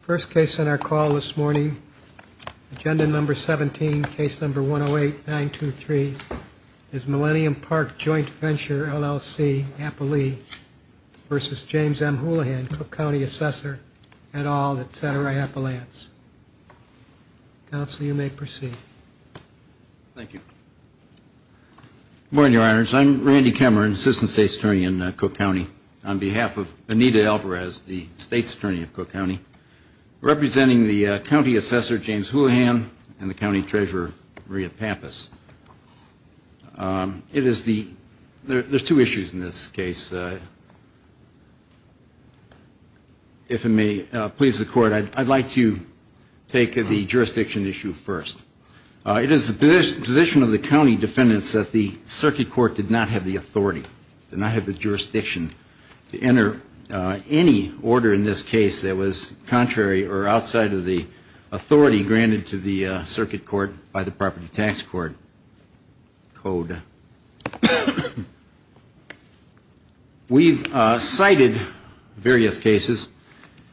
First case on our call this morning, agenda number 17, case number 108-923, is Millennium Park Joint Venture LLC, Appalee v. James M. Houlihan, Cook County Assessor, et al. at Santa Rae Appalachians. Counsel, you may proceed. Thank you. Good morning, Your Honors. I'm Randy Cameron, Assistant State's Attorney in Cook County. On behalf of Anita Alvarez, as the State's Attorney of Cook County, representing the County Assessor, James Houlihan, and the County Treasurer, Maria Pampas. It is the, there's two issues in this case. If it may please the Court, I'd like to take the jurisdiction issue first. It is the position of the county defendants that the Circuit Court did not have the authority, did not have the jurisdiction to enter any order in this case that was contrary or outside of the authority granted to the Circuit Court by the Property Tax Court Code. We've cited various cases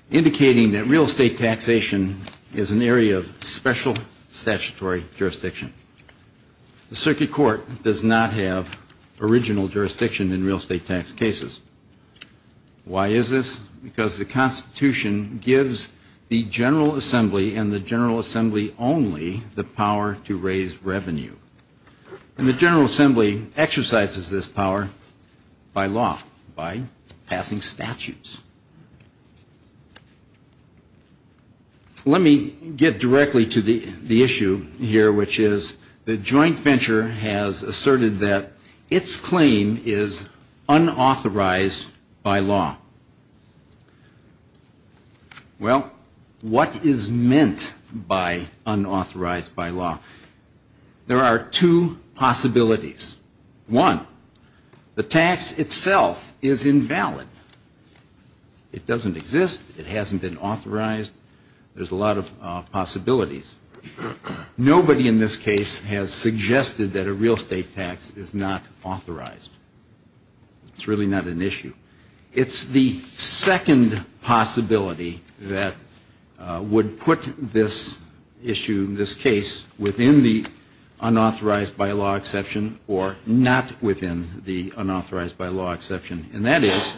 indicating that real estate taxation is an area of special statutory jurisdiction. The Circuit Court does not have original jurisdiction in real estate tax cases. Why is this? Because the Constitution gives the General Assembly and the General Assembly only the power to raise revenue. And the General Assembly exercises this power by law, by passing statutes. Let me get directly to the issue here, which is the joint venture has asserted that its claim is unauthorized by law. Well, what is meant by unauthorized by law? There are two possibilities. One, the tax itself is invalid. It doesn't exist. It hasn't been authorized. There's a lot of possibilities. Nobody in this case has suggested that a real estate tax is not authorized. It's really not an issue. It's the second possibility that would put this issue, this case, within the unauthorized by law exception or not within the unauthorized by law exception. And that is,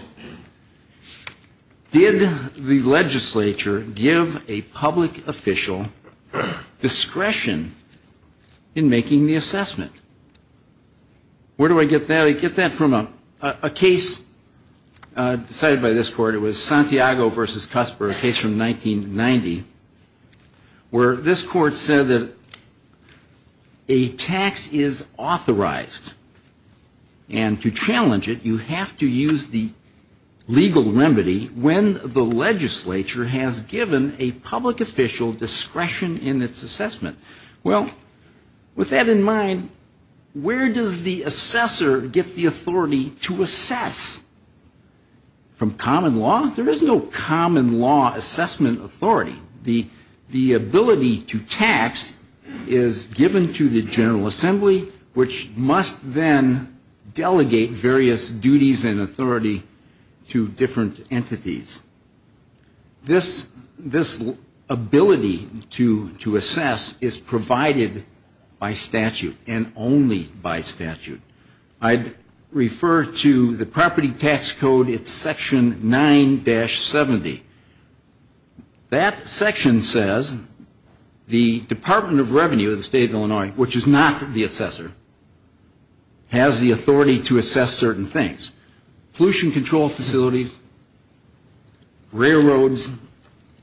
did the legislature give a public official discretion in making the assessment? Where do I get that? I get that from a case decided by this Court. It was Santiago v. Cusper, a case from 1990, where this Court said that a tax is authorized. And to challenge it, you have to use the legal remedy when the legislature has given a public official discretion in its assessment. Well, with that in mind, where does the assessor get the authority to assess? From common law? There is no common law assessment authority. The ability to tax is given to the General Assembly, which must then delegate various duties and authority to different entities. This ability to assess is provided by statute and only by statute. I'd like to say that the Department of Revenue of the State of Illinois, which is not the assessor, has the authority to assess certain things. Pollution control facilities, railroads,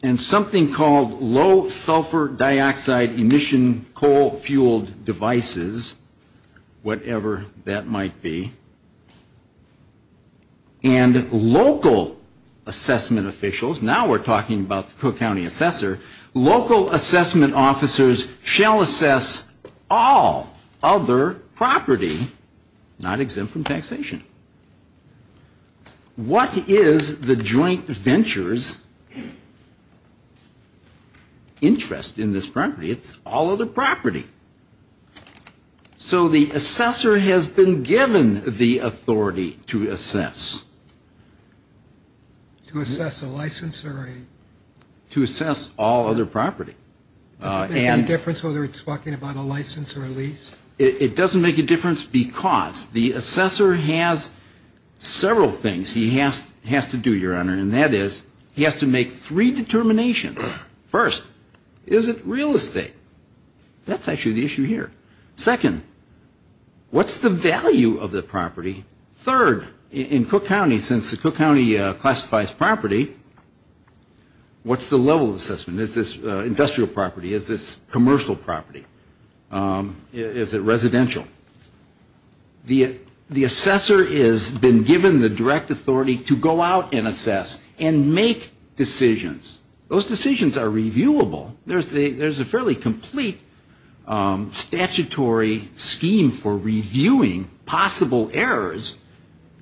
and something called low-sulfur dioxide emission coal-fueled devices, whatever that might be. And local assessment officials, now we're talking about the Cook County assessor, local assessment officers shall assess all other property not exempt from taxation. What is the joint venture's interest in this property? It's all other property. So the assessor has been given the authority to assess a license or a? To assess all other property. Does it make a difference whether it's talking about a license or a lease? It doesn't make a difference because the assessor has several things he has to do, Your Honor, and that is he has to make three determinations. First, is it real estate? That's actually the issue here. Second, what's the value of the property? Third, in Cook County, since the Cook County classifies property, what's the level of assessment? Is this industrial property? Is this commercial property? Is it residential? The assessor has been given the direct authority to go out and assess and make decisions. Those decisions are reviewable. There's a fairly complete statutory scheme for reviewing possible errors,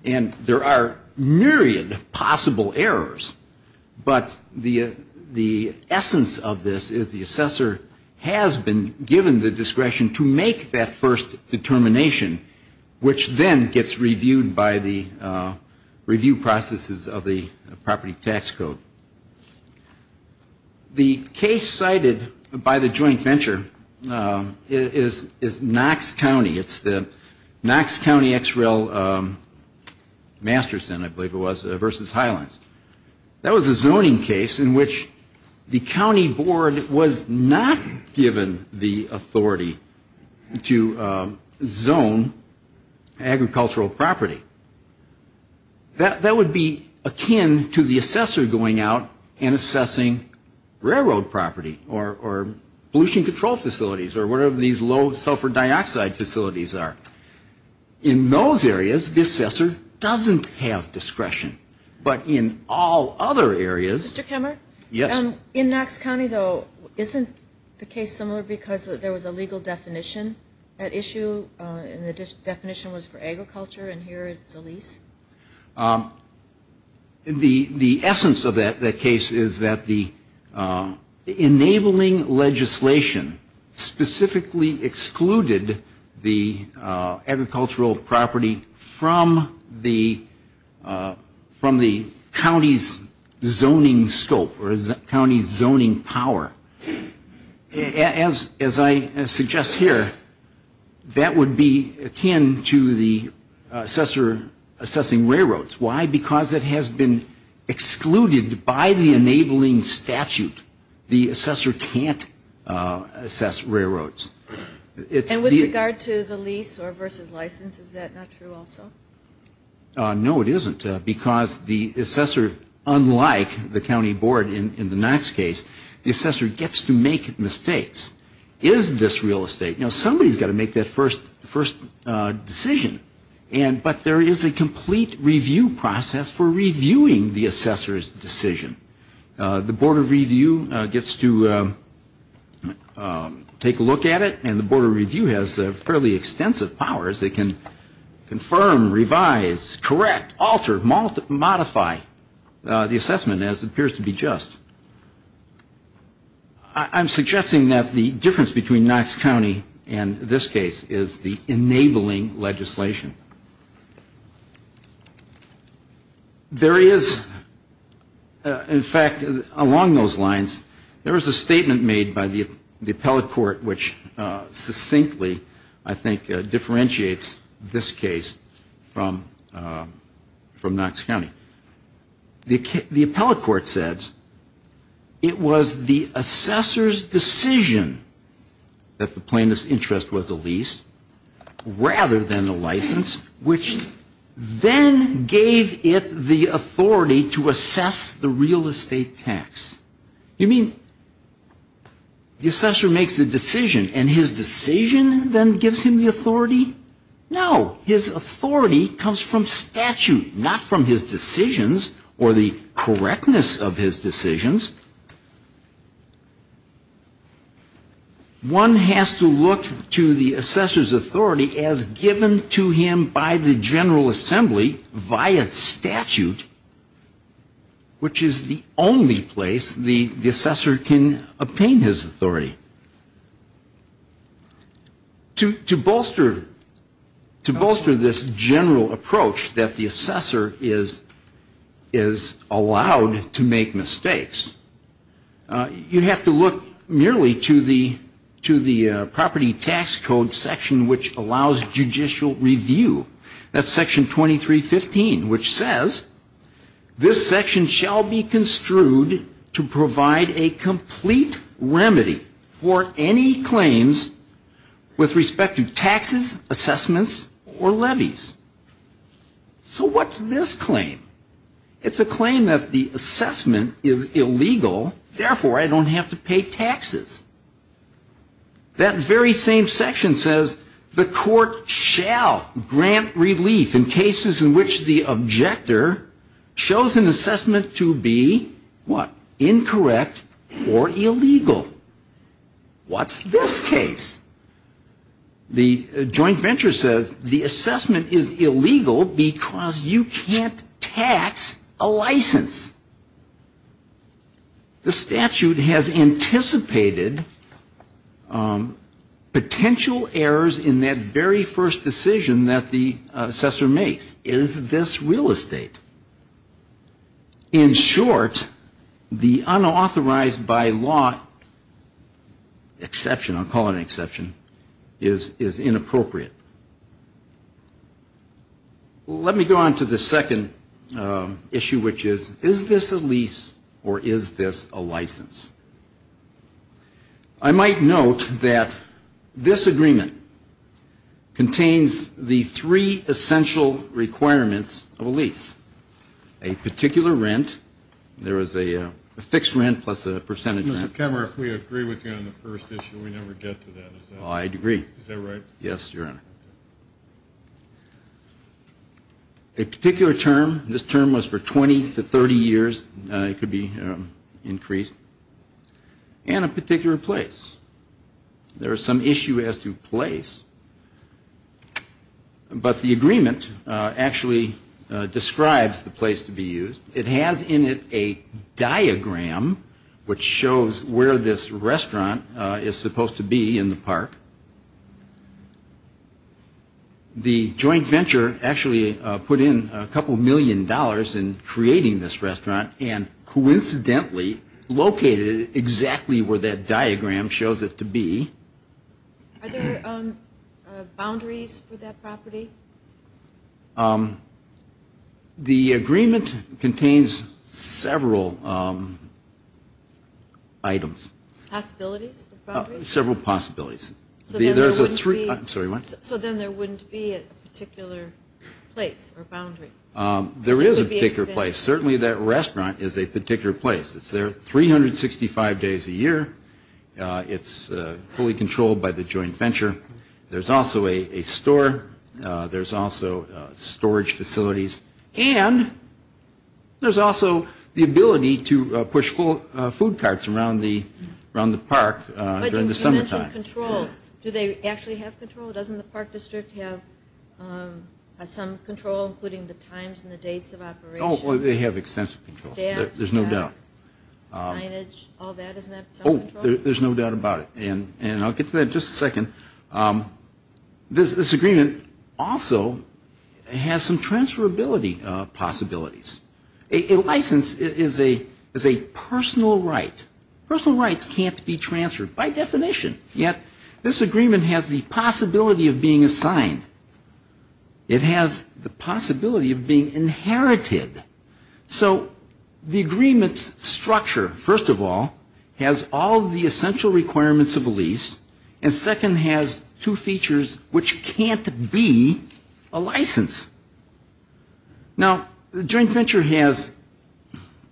and there are myriad possible errors. But the essence of this is the assessor has been given the discretion to make that first determination, which then gets reviewed by the review processes of the property tax code. The case cited by the joint venture is Knox County. It's the Knox County XREL Masterson, I believe it was, versus Highlands. That was a zoning case in which the county board was not given the authority to zone agricultural property. That would be akin to the assessor going out and assessing railroad property or pollution control facilities or whatever these low sulfur dioxide facilities are. In those areas, the assessor doesn't have discretion. But in all other areas Mr. Kemmer? Yes. In Knox County, though, isn't the case similar because there was a legal definition at issue and the definition was for agriculture and here it's a lease? Yes. The essence of that case is that the enabling legislation specifically excluded the agricultural property from the county's zoning scope or county's zoning power. As I suggest here, that would be akin to the assessor assessing railroads. Why? Because it has been excluded by the enabling statute. The assessor can't assess railroads. And with regard to the lease or versus license, is that not true also? No, it isn't because the assessor, unlike the county board in the Knox case, the assessor gets to make mistakes. Is this real estate? Somebody's got to make that first decision. But there is a complete review process for reviewing the assessor's decision. The Board of Review gets to take a look at it and the Board of Review has fairly extensive powers. They can confirm, revise, correct, alter, modify the assessment as it appears to be just. I'm suggesting that the difference between Knox County and this case is the enabling legislation. There is, in fact, along those lines, there is a statement made by the appellate court which succinctly, I think, differentiates this case from Knox County. The appellate court said it was the assessor's decision that the plaintiff's interest was the lease rather than the license which then gave it the authority to assess the real estate tax. You mean the assessor makes a decision and his decision then gives him the authority? No. His authority comes from statute, not from his decisions or the correctness of his decisions. One has to look to the assessor's authority as given to him by the General Assembly via statute, which is the only place the assessor can obtain his authority. To bolster this general approach that the assessor is allowed to make mistakes, you have to look merely to the property tax code section which allows judicial review. That's section 2315 which says, this section shall be construed to provide a complete remedy for any claims with respect to taxes, assessments, or levies. So what's this claim? It's a claim that the assessment is illegal, therefore, I don't have to pay taxes. That very same section says the court shall grant relief in cases in which the objector shows an assessment to be, what, incorrect or illegal. What's this case? The joint venture says the assessment is illegal because you can't tax a license. The statute has anticipated potential errors in that very first decision that the assessor makes. Is this real estate? In short, the unauthorized by law exception, I'll call it an exception, is inappropriate. Let me go on to the second issue which is, is this a lease or is this a license? I might note that this agreement contains the three essential requirements of a lease. A particular rent, there is a fixed rent plus a percentage rent. Mr. Kemmerer, if we agree with you on the first issue, we never get to that, is that right? Is that right? Yes, Your Honor. A particular term, this term was for 20 to 30 years. It could be increased. And a particular place. There is some issue as to place, but the agreement actually describes the place to be used. It has in it a diagram which shows where this restaurant is supposed to be in Park. The joint venture actually put in a couple million dollars in creating this restaurant and coincidentally located exactly where that diagram shows it to be. Are there boundaries for that property? The agreement contains several items. Possibilities? Several possibilities. So then there wouldn't be a particular place or boundary? There is a particular place. Certainly that restaurant is a particular place. It's there 365 days a year. It's fully controlled by the joint venture. There's also a store. There's also storage facilities. And there's also the ability to push food carts around the Park during the summertime. But you mentioned control. Do they actually have control? Doesn't the Park District have some control including the times and the dates of operation? They have extensive control. There's no doubt. Staff, staff, signage, all that. Isn't that some control? There's no doubt about it. And I'll get to that in just a second. This agreement also has some transferability possibilities. A license is a personal right. Personal rights can't be transferred by definition. Yet this agreement has the possibility of being assigned. It has the possibility of being inherited. So the agreement's structure, first of all, has all of the essential requirements of a lease. And second, has two features which can't be a license. Now the joint venture has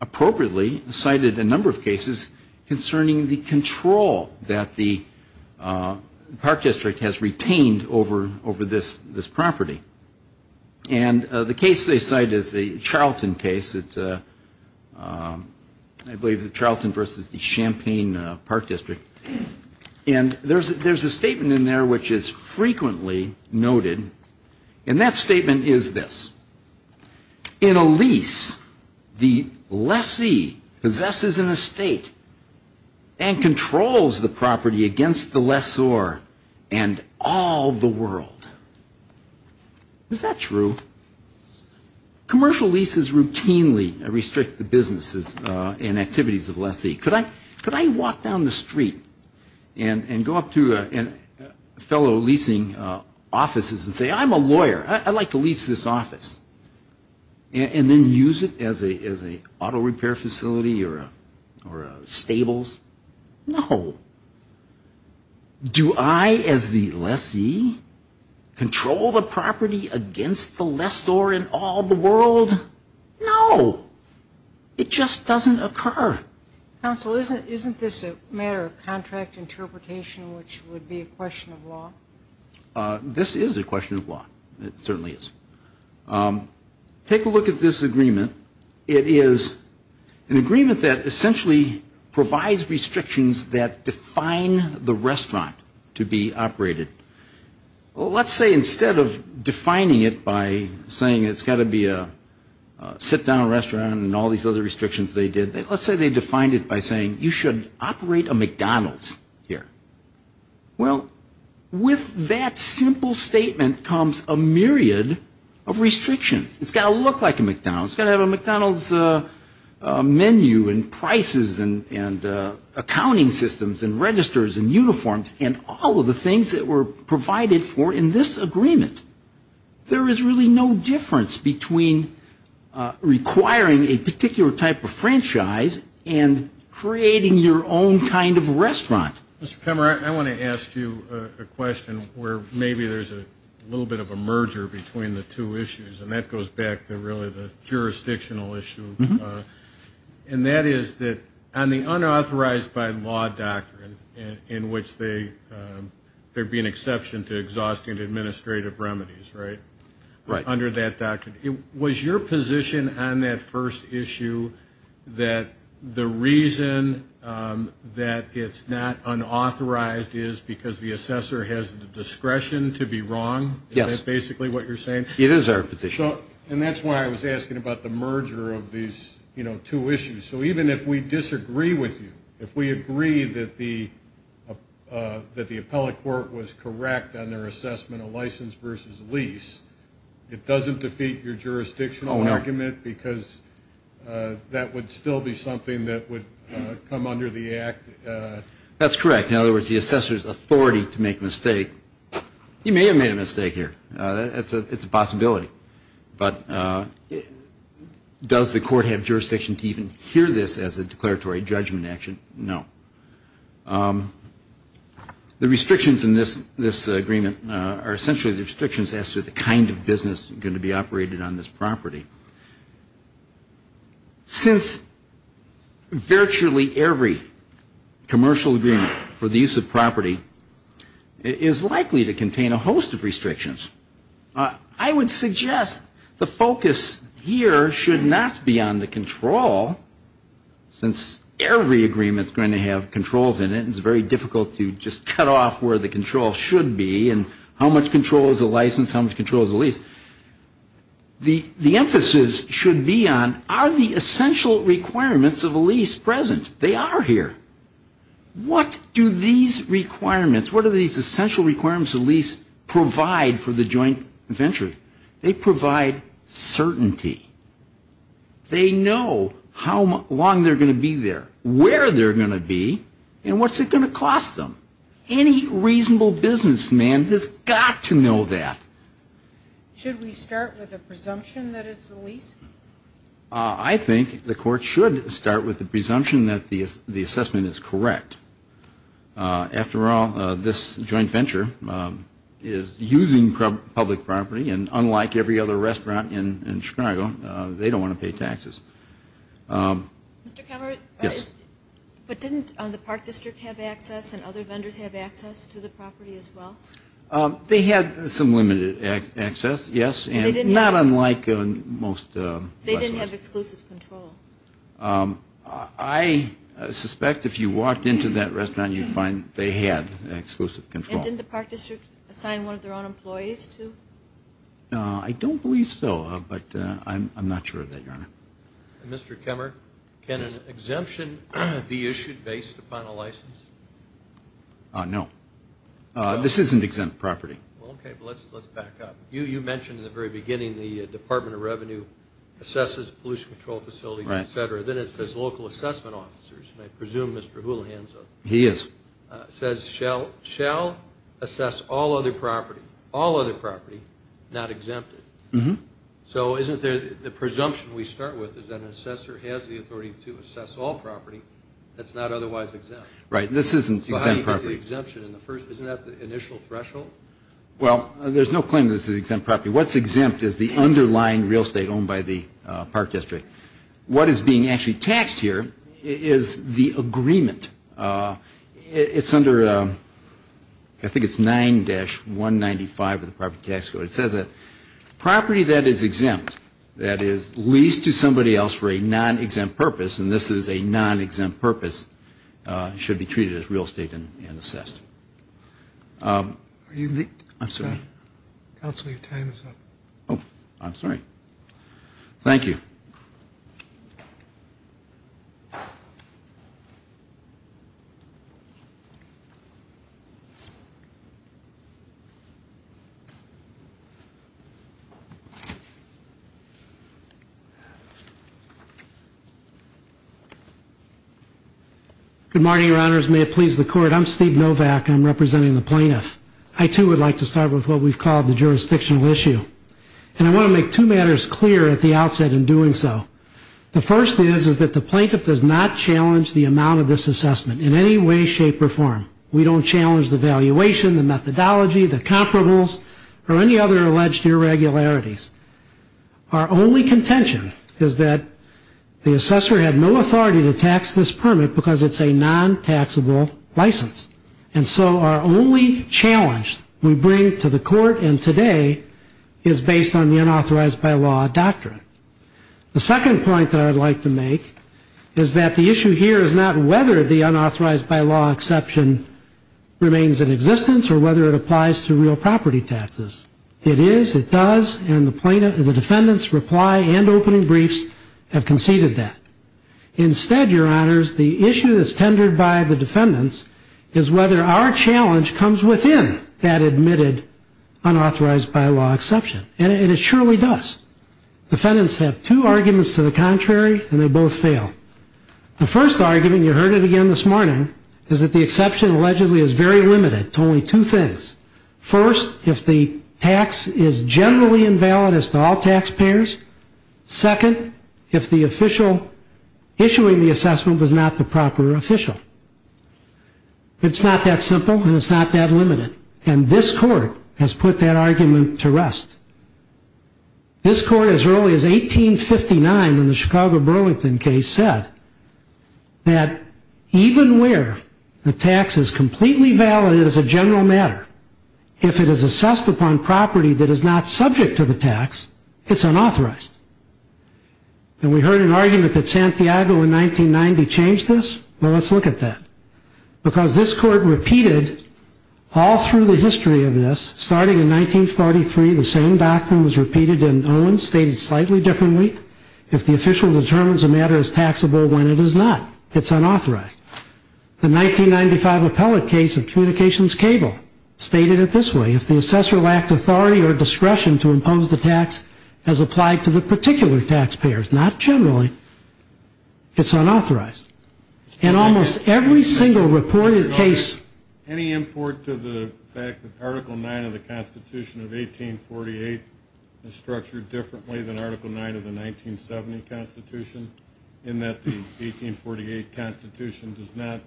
appropriately cited a number of cases concerning the control that the Park District has retained over this property. And the case they cite is the Charlton case. It's, I believe, the Charlton versus the Champaign Park District. And there's a statement in there which is frequently noted. And that statement is this. In a lease, the lessee possesses an estate and controls the property against the lessor and all the world. Is that true? Commercial leases routinely restrict the businesses and activities of the lessee. Could I walk down the street and go up to a fellow leasing offices and say, I'm a lawyer. I'd like to lease this office. And then use it as an auto repair facility or a stables? No. Do I, as the lessee, control the property against the lessor and all the world? No. It just doesn't occur. Counsel, isn't this a matter of contract interpretation which would be a question of law? This is a question of law. It certainly is. Take a look at this agreement. It is an agreement that essentially provides restrictions that define the restaurant to be operated. Let's say instead of defining it by saying it's got to be a sit-down restaurant and all these other restrictions they did, let's say they defined it by saying you should operate a McDonald's here. Well, with that simple statement comes a myriad of restrictions. It's got to look like a McDonald's. It's got to have a McDonald's menu and prices and accounting systems and registers and uniforms and all of the things that were provided for in this agreement. There is really no difference between requiring a particular type of franchise and creating your own kind of restaurant. Mr. Kemmerer, I want to ask you a question where maybe there's a little bit of a merger between the two issues, and that goes back to really the jurisdictional issue. And that is that on the unauthorized by law doctrine in which there be an exception to exhaustive administrative remedies, right? Right. Under that doctrine. Was your position on that first issue that the reason that it's not unauthorized is because the assessor has the discretion to be wrong? Yes. Is that basically what you're saying? It is our position. And that's why I was asking about the merger of these, you know, two issues. So even if we disagree with you, if we agree that the appellate court was correct on their assessment of license versus lease, it doesn't defeat your jurisdictional argument because that would still be something that would come under the act? That's correct. In other words, the assessor's authority to make a mistake. You may have made a mistake here. It's a possibility. But does the court have jurisdiction to even hear this as a declaratory judgment action? No. The restrictions in this agreement are essentially the restrictions as to the kind of business going to be operated on this property. Since virtually every commercial agreement for the use of property is likely to contain a host of restrictions, I would suggest the focus here should not be on the control, since every agreement is going to have controls in it, and it's very difficult to just cut off where the control should be and how much control is a license, how much control is a lease. The emphasis should be on are the essential requirements of a lease present? They are here. What do these requirements, what do these essential requirements of a lease provide for the joint venture? They provide certainty. They know how long they're going to be there, where they're going to be, and what's it going to cost them. Any reasonable businessman has got to know that. Should we start with a presumption that it's a lease? I think the court should start with the presumption that the assessment is correct. After all, this joint venture is using public property, and unlike every other restaurant in Chicago, they don't want to pay taxes. Mr. Calvert? Yes. But didn't the Park District have access and other vendors have access to the property as well? They had some limited access, yes, and not unlike most restaurants. They didn't have exclusive control. I suspect if you walked into that restaurant, you'd find they had exclusive control. And didn't the Park District assign one of their own employees to? I don't believe so, but I'm not sure of that, Your Honor. Mr. Kemmer, can an exemption be issued based upon a license? No. This isn't exempt property. Okay, but let's back up. You mentioned in the very beginning the Department of Revenue assesses pollution control facilities, et cetera. Then it says local assessment officers, and I presume Mr. Houlihan is. He is. It says, shall assess all other property, all other property, not exempted. So isn't the presumption we start with is that an assessor has the authority to assess all property that's not otherwise exempt? Right, this isn't exempt property. So how do you get the exemption in the first place? Isn't that the initial threshold? Well, there's no claim this is exempt property. What's exempt is the underlying real estate owned by the Park District. What is being actually taxed here is the agreement. It's under, I think it's 9-195 of the property tax code. It says that property that is exempt, that is leased to somebody else for a non-exempt purpose, and this is a non-exempt purpose, should be treated as real estate and assessed. Are you? I'm sorry. Counsel, your time is up. Oh, I'm sorry. Thank you. May it please the Court. I'm Steve Novak. I'm representing the plaintiff. I, too, would like to start with what we've called the jurisdictional issue, and I want to make two matters clear at the outset in doing so. The first is that the plaintiff does not challenge the amount of this assessment in any way, shape, or form. We don't challenge the valuation, the methodology, the comparables, or any other alleged irregularities. Our only contention is that the assessor had no authority to tax this permit because it's a non-taxable license. And so our only challenge we bring to the Court in today is based on the unauthorized by law doctrine. The second point that I'd like to make is that the issue here is not whether the unauthorized by law exception remains in existence or whether it applies to real property taxes. It is, it does, and the defendant's reply and opening briefs have conceded that. Instead, Your Honors, the issue that's tendered by the defendants is whether our challenge comes within that admitted unauthorized by law exception. And it surely does. Defendants have two arguments to the contrary, and they both fail. The first argument, you heard it again this morning, is that the exception allegedly is very limited to only two things. First, if the tax is generally invalid as to all taxpayers. Second, if the official issuing the assessment was not the proper official. It's not that simple, and it's not that limited. And this Court has put that argument to rest. This Court, as early as 1859 in the Chicago Burlington case, said that even where the tax is completely valid as a general matter, if it is assessed upon property that is not subject to the tax, it's unauthorized. And we heard an argument that Santiago in 1990 changed this. Well, let's look at that. Because this Court repeated all through the history of this. Starting in 1943, the same doctrine was repeated in Owens, stated slightly differently. If the official determines a matter is taxable when it is not, it's unauthorized. The 1995 appellate case of Communications Cable stated it this way. If the assessor lacked authority or discretion to impose the tax as applied to the particular taxpayers, not generally, it's unauthorized. And almost every single reported case. Any import to the fact that Article 9 of the Constitution of 1848 is structured differently than Article 9 of the 1970 Constitution, in that the 1848 Constitution does not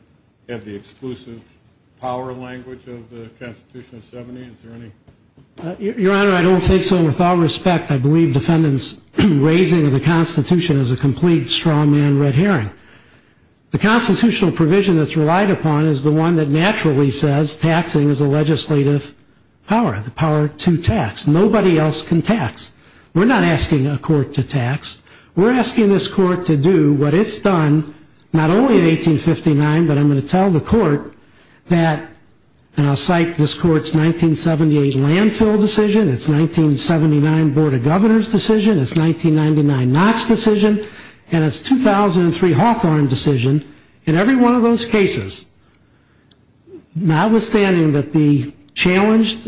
have the exclusive power language of the Constitution of 70? Your Honor, I don't think so. And with all respect, I believe defendants' raising of the Constitution is a complete strawman red herring. The constitutional provision that's relied upon is the one that naturally says taxing is a legislative power. The power to tax. Nobody else can tax. We're not asking a court to tax. We're asking this Court to do what it's done, not only in 1859, but I'm going to tell the Court that, and I'll cite this Court's 1978 landfill decision, its 1979 Board of Governors decision, its 1999 Knox decision, and its 2003 Hawthorne decision. In every one of those cases, notwithstanding that the challenged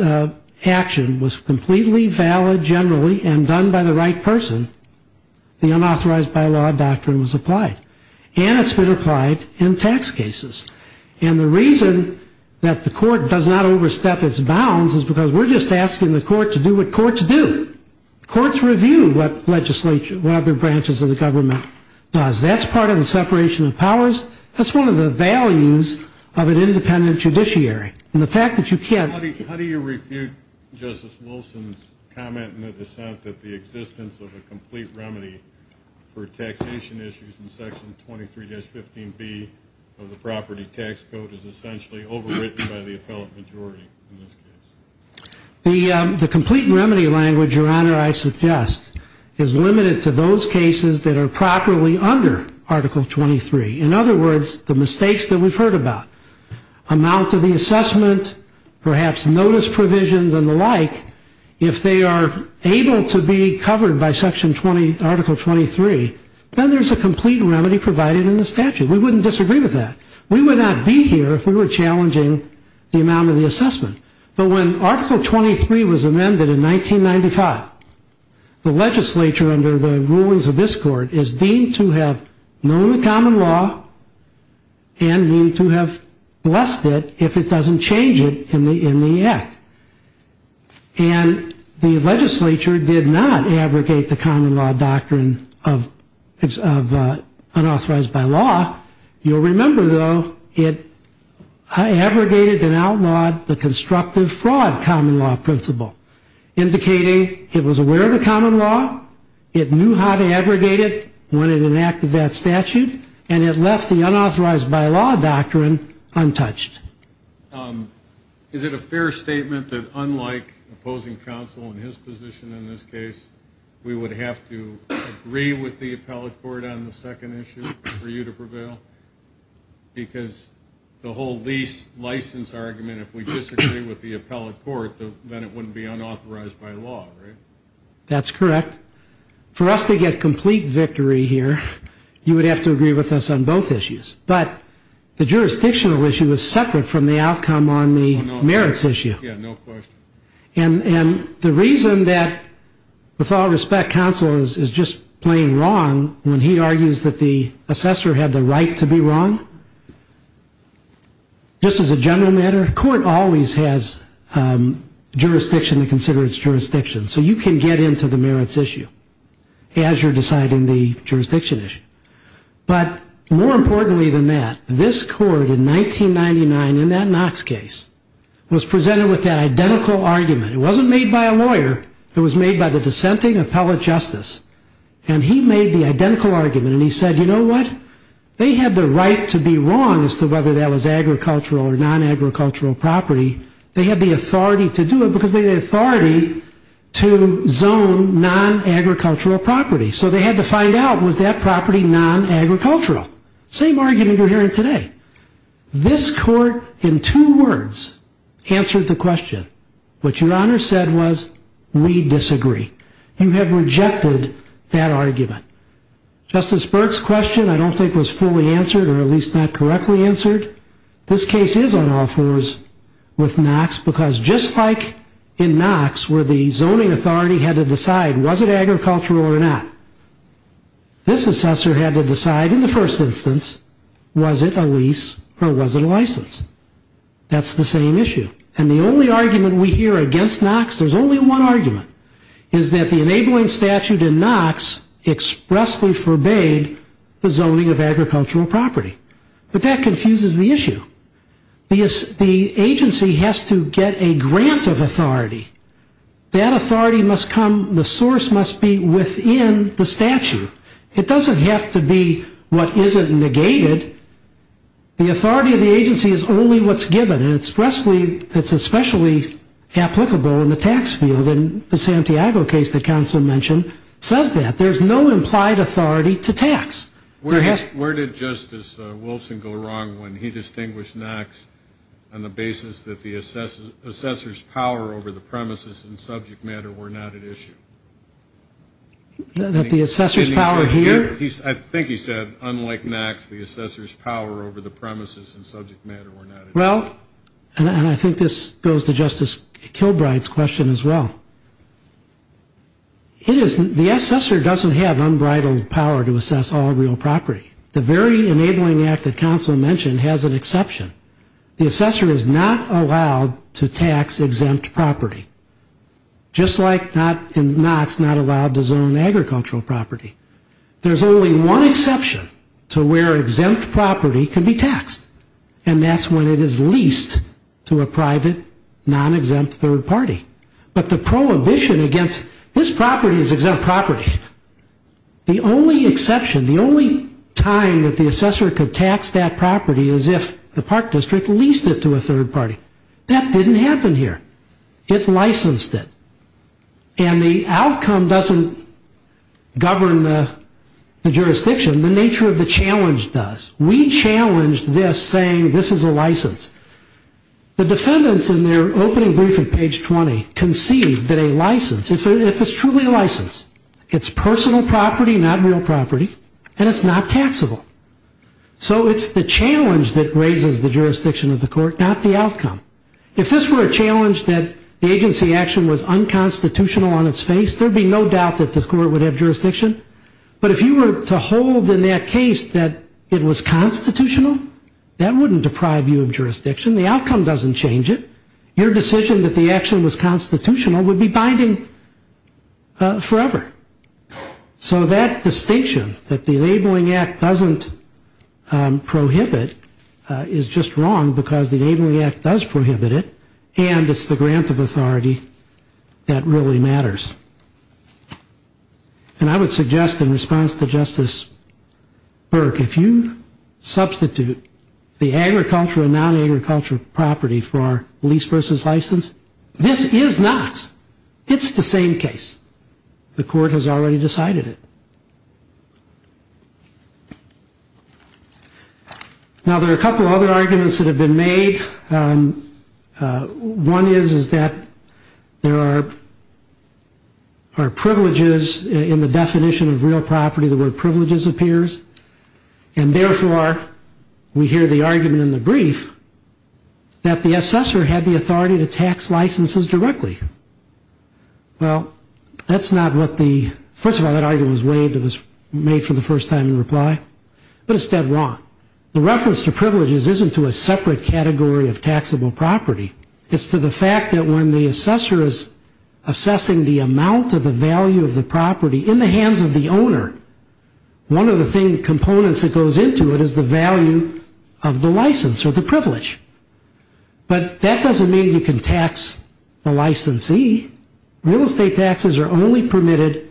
action was completely valid generally and done by the right person, the unauthorized by law doctrine was applied. And it's been applied in tax cases. And the reason that the Court does not overstep its bounds is because we're just asking the Court to do what courts do. Courts review what other branches of the government does. That's part of the separation of powers. That's one of the values of an independent judiciary. And the fact that you can't. How do you refute Justice Wilson's comment in the dissent that the existence of a complete remedy for taxation issues in Section 23-15B of the property tax code is essentially overwritten by the appellate majority in this case? The complete remedy language, Your Honor, I suggest is limited to those cases that are properly under Article 23. In other words, the mistakes that we've heard about, amounts of the assessment, perhaps notice provisions and the like, if they are able to be covered by Article 23, then there's a complete remedy provided in the statute. We wouldn't disagree with that. We would not be here if we were challenging the amount of the assessment. But when Article 23 was amended in 1995, the legislature under the rulings of this Court is deemed to have known the common law and deemed to have blessed it if it doesn't change it in the act. And the legislature did not abrogate the common law doctrine of unauthorized by law. You'll remember, though, it abrogated and outlawed the constructive fraud common law principle, indicating it was aware of the common law, it knew how to abrogate it when it enacted that statute, and it left the unauthorized by law doctrine untouched. Is it a fair statement that unlike opposing counsel in his position in this case, we would have to agree with the appellate court on the second issue for you to prevail? Because the whole lease license argument, if we disagree with the appellate court, then it wouldn't be unauthorized by law, right? That's correct. For us to get complete victory here, you would have to agree with us on both issues. But the jurisdictional issue is separate from the outcome on the merits issue. Yeah, no question. And the reason that, with all respect, counsel is just plain wrong when he argues that the assessor had the right to be wrong, just as a general matter, court always has jurisdiction to consider its jurisdiction. So you can get into the merits issue as you're deciding the jurisdiction issue. But more importantly than that, this court in 1999, in that Knox case, was presented with that identical argument. It wasn't made by a lawyer. It was made by the dissenting appellate justice. And he made the identical argument, and he said, you know what? They had the right to be wrong as to whether that was agricultural or non-agricultural property. They had the authority to do it because they had the authority to zone non-agricultural property. So they had to find out, was that property non-agricultural? Same argument you're hearing today. This court, in two words, answered the question. What your Honor said was, we disagree. You have rejected that argument. Justice Burke's question I don't think was fully answered, or at least not correctly answered. This case is on all fours with Knox because just like in Knox where the zoning authority had to decide, was it agricultural or not? This assessor had to decide in the first instance, was it a lease or was it a license? That's the same issue. And the only argument we hear against Knox, there's only one argument, is that the enabling statute in Knox expressly forbade the zoning of agricultural property. But that confuses the issue. The agency has to get a grant of authority. That authority must come, the source must be within the statute. It doesn't have to be what isn't negated. The authority of the agency is only what's given. And it's expressly, it's especially applicable in the tax field. And the Santiago case that counsel mentioned says that. There's no implied authority to tax. Where did Justice Wilson go wrong when he distinguished Knox on the basis that the assessor's power over the premises and subject matter were not at issue? That the assessor's power here? I think he said, unlike Knox, the assessor's power over the premises and subject matter were not at issue. Well, and I think this goes to Justice Kilbride's question as well. The assessor doesn't have unbridled power to assess all real property. The very enabling act that counsel mentioned has an exception. The assessor is not allowed to tax exempt property. Just like Knox is not allowed to zone agricultural property. There's only one exception to where exempt property can be taxed. And that's when it is leased to a private, non-exempt third party. But the prohibition against this property is exempt property. The only exception, the only time that the assessor could tax that property is if the park district leased it to a third party. That didn't happen here. It licensed it. And the outcome doesn't govern the jurisdiction. The nature of the challenge does. We challenged this saying this is a license. The defendants in their opening briefing, page 20, concede that a license, if it's truly a license, it's personal property, not real property, and it's not taxable. So it's the challenge that raises the jurisdiction of the court, not the outcome. If this were a challenge that the agency action was unconstitutional on its face, there would be no doubt that the court would have jurisdiction. But if you were to hold in that case that it was constitutional, that wouldn't deprive you of jurisdiction. The outcome doesn't change it. Your decision that the action was constitutional would be binding forever. So that distinction that the Enabling Act doesn't prohibit is just wrong because the Enabling Act does prohibit it, and it's the grant of authority that really matters. And I would suggest in response to Justice Burke, if you substitute the agricultural and non-agricultural property for our lease versus license, this is not. It's the same case. The court has already decided it. Now, there are a couple other arguments that have been made. One is that there are privileges in the definition of real property. The word privileges appears. And therefore, we hear the argument in the brief that the assessor had the authority to tax licenses directly. Well, that's not what the – first of all, that argument was waived. It was made for the first time in reply. But it's dead wrong. The reference to privileges isn't to a separate category of taxable property. It's to the fact that when the assessor is assessing the amount of the value of the property in the hands of the owner, one of the components that goes into it is the value of the license or the privilege. But that doesn't mean you can tax the licensee. Real estate taxes are only permitted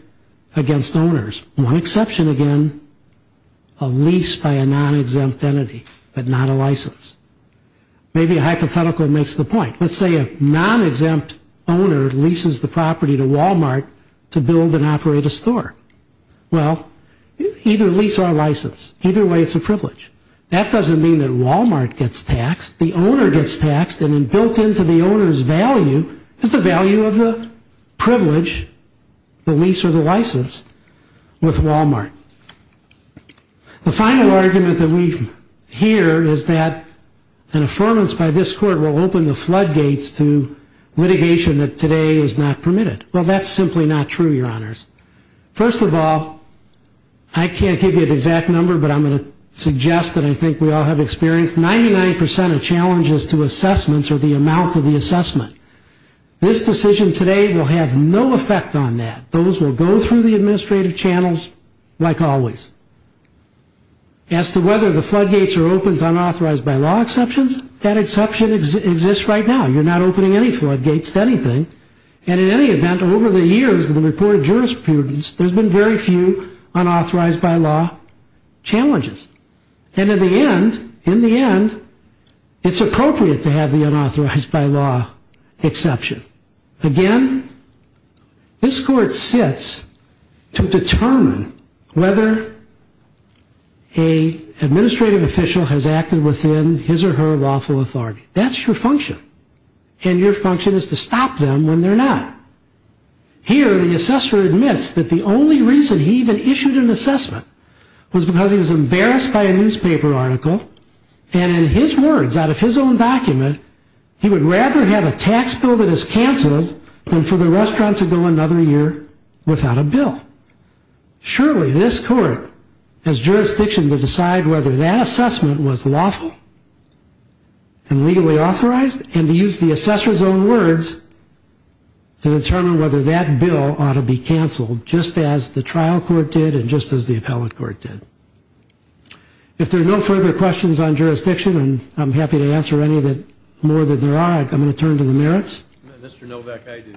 against owners. One exception, again, a lease by a non-exempt entity, but not a license. Maybe a hypothetical makes the point. Let's say a non-exempt owner leases the property to Wal-Mart to build and operate a store. Well, either lease or license, either way it's a privilege. That doesn't mean that Wal-Mart gets taxed. The owner gets taxed, and then built into the owner's value is the value of the privilege, the lease or the license, with Wal-Mart. The final argument that we hear is that an affirmance by this court will open the floodgates to litigation that today is not permitted. Well, that's simply not true, Your Honors. First of all, I can't give you an exact number, but I'm going to suggest that I think we all have experience. 99% of challenges to assessments are the amount of the assessment. This decision today will have no effect on that. Those will go through the administrative channels like always. As to whether the floodgates are open to unauthorized by law exceptions, that exception exists right now. You're not opening any floodgates to anything. And in any event, over the years of the reported jurisprudence, there's been very few unauthorized by law challenges. And in the end, it's appropriate to have the unauthorized by law exception. Again, this court sits to determine whether an administrative official has acted within his or her lawful authority. That's your function. And your function is to stop them when they're not. Here, the assessor admits that the only reason he even issued an assessment was because he was embarrassed by a newspaper article. And in his words, out of his own document, he would rather have a tax bill that is canceled than for the restaurant to go another year without a bill. Surely, this court has jurisdiction to decide whether that assessment was lawful and legally authorized. And to use the assessor's own words, to determine whether that bill ought to be canceled, just as the trial court did and just as the appellate court did. If there are no further questions on jurisdiction, and I'm happy to answer any more than there are, I'm going to turn to the merits. Mr. Novak, I do.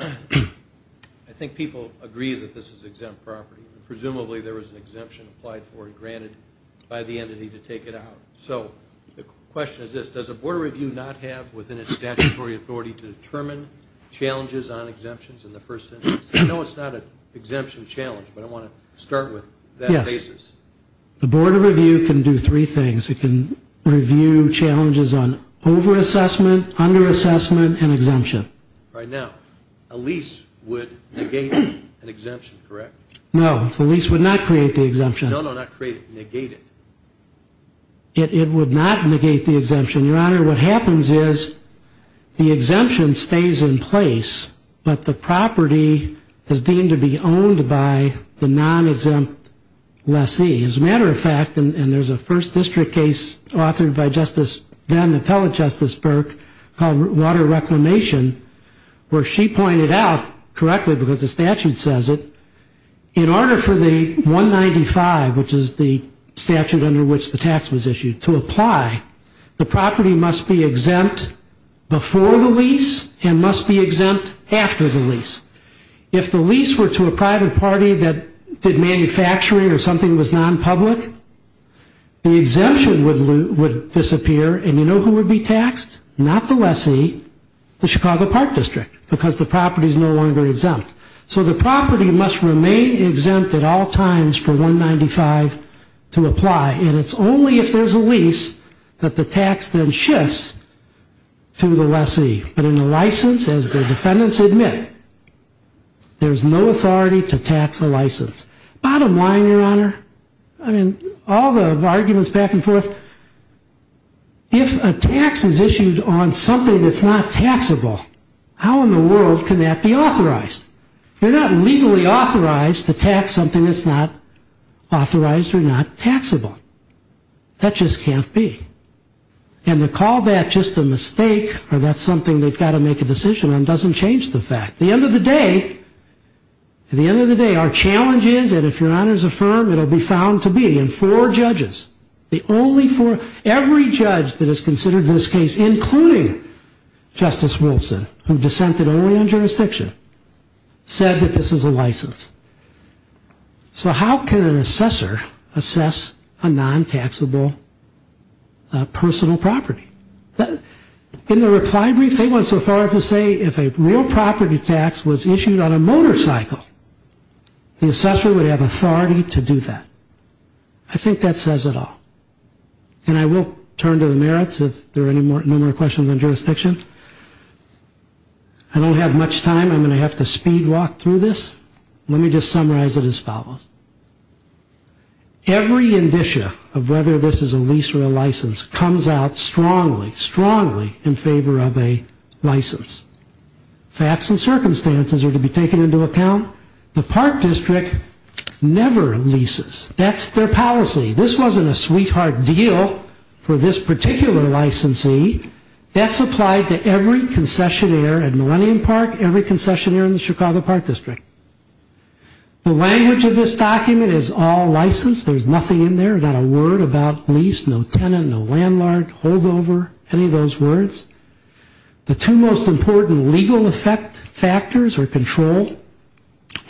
I think people agree that this is exempt property. Presumably, there was an exemption applied for and granted by the entity to take it out. So, the question is this. Does the Board of Review not have within its statutory authority to determine challenges on exemptions in the first instance? I know it's not an exemption challenge, but I want to start with that basis. Yes. The Board of Review can do three things. It can review challenges on over-assessment, under-assessment, and exemption. All right. Now, a lease would negate an exemption, correct? No, the lease would not create the exemption. No, no, not create it, negate it. It would not negate the exemption. Your Honor, what happens is the exemption stays in place, but the property is deemed to be owned by the non-exempt lessee. As a matter of fact, and there's a first district case authored by Justice then, Appellate Justice Burke, called Water Reclamation, where she pointed out, correctly because the statute says it, in order for the 195, which is the statute under which the tax was issued, to apply, the property must be exempt before the lease and must be exempt after the lease. If the lease were to a private party that did manufacturing or something that was non-public, the exemption would disappear, and you know who would be taxed? Not the lessee, the Chicago Park District, because the property is no longer exempt. So the property must remain exempt at all times for 195 to apply, and it's only if there's a lease that the tax then shifts to the lessee. But in the license, as the defendants admit, there's no authority to tax the license. Bottom line, Your Honor, I mean, all the arguments back and forth, but if a tax is issued on something that's not taxable, how in the world can that be authorized? You're not legally authorized to tax something that's not authorized or not taxable. That just can't be. And to call that just a mistake or that's something they've got to make a decision on doesn't change the fact. At the end of the day, our challenge is, and if Your Honor's affirm, it'll be found to be, in four judges, the only four, every judge that has considered this case, including Justice Wilson, who dissented only on jurisdiction, said that this is a license. So how can an assessor assess a non-taxable personal property? In the reply brief, they went so far as to say if a real property tax was issued on a motorcycle, the assessor would have authority to do that. I think that says it all. And I will turn to the merits if there are no more questions on jurisdiction. I don't have much time. I'm going to have to speed walk through this. Let me just summarize it as follows. Every indicia of whether this is a lease or a license comes out strongly, strongly in favor of a license. Facts and circumstances are to be taken into account. The Park District never leases. That's their policy. This wasn't a sweetheart deal for this particular licensee. That's applied to every concessionaire at Millennium Park, every concessionaire in the Chicago Park District. The language of this document is all license. There's nothing in there. Not a word about lease, no tenant, no landlord, holdover, any of those words. The two most important legal effect factors are control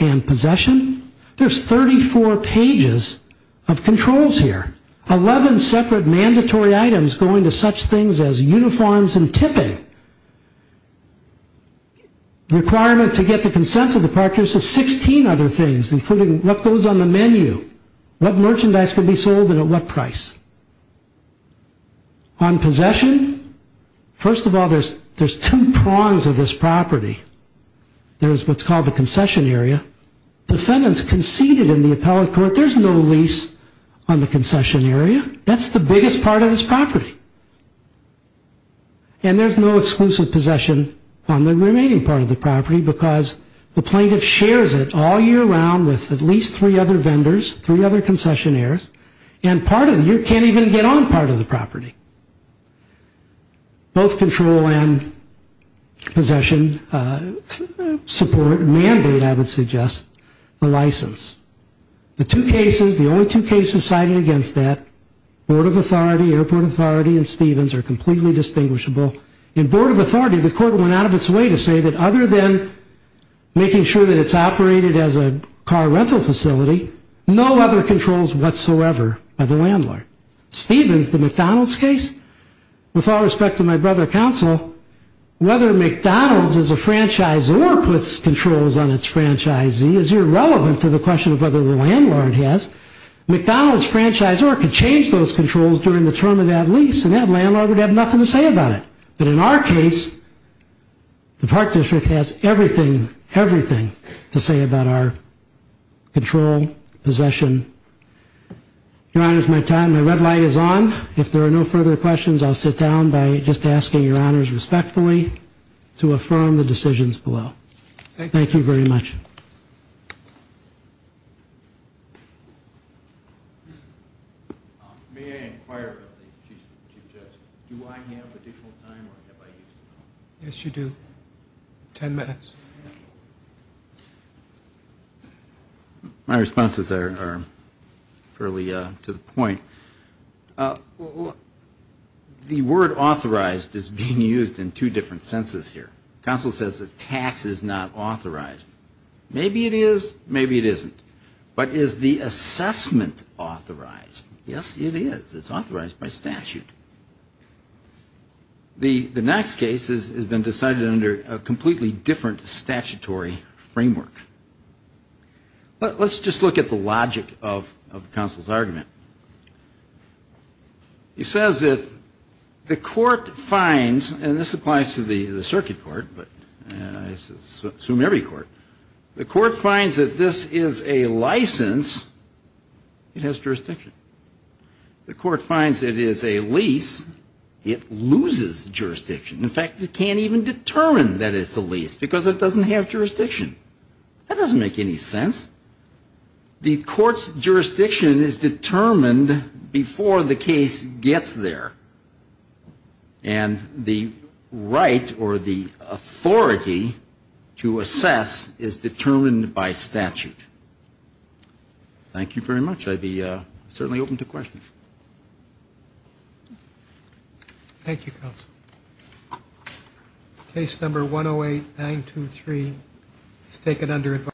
and possession. There's 34 pages of controls here. Eleven separate mandatory items going to such things as uniforms and tipping. Requirement to get the consent of the Park District, 16 other things including what goes on the menu, what merchandise can be sold and at what price. On possession, first of all, there's two prongs of this property. There's what's called the concession area. Defendants conceded in the appellate court. There's no lease on the concession area. That's the biggest part of this property. And there's no exclusive possession on the remaining part of the property because the plaintiff shares it all year round with at least three other vendors, three other concessionaires. And part of it, you can't even get on part of the property. Both control and possession support mandate, I would suggest, the license. The two cases, the only two cases cited against that, Board of Authority, Airport Authority and Stevens are completely distinguishable. In Board of Authority, the court went out of its way to say that other than making sure that it's operated as a car rental facility, no other controls whatsoever by the landlord. Stevens, the McDonald's case, with all respect to my brother counsel, whether McDonald's is a franchise or puts controls on its franchisee is irrelevant to the question of whether the landlord has. McDonald's franchise or could change those controls during the term of that lease and that landlord would have nothing to say about it. But in our case, the Park District has everything, everything to say about our control, possession. Your Honors, my time, my red light is on. If there are no further questions, I'll sit down by just asking Your Honors respectfully to affirm the decisions below. Thank you very much. Thank you. May I inquire, Chief Justice, do I have additional time or have I used it all? Yes, you do. Ten minutes. My responses are fairly to the point. The word authorized is being used in two different senses here. Counsel says that tax is not authorized. Maybe it is, maybe it isn't. But is the assessment authorized? Yes, it is. It's authorized by statute. The next case has been decided under a completely different statutory framework. Let's just look at the logic of counsel's argument. He says that the court finds, and this applies to the circuit court, but I assume every court, the court finds that this is a license, it has jurisdiction. The court finds it is a lease, it loses jurisdiction. In fact, it can't even determine that it's a lease because it doesn't have jurisdiction. That doesn't make any sense. The court's jurisdiction is determined before the case gets there. And the right or the authority to assess is determined by statute. Thank you very much. I'd be certainly open to questions. Thank you, counsel. Case number 108-923 is taken under advisory.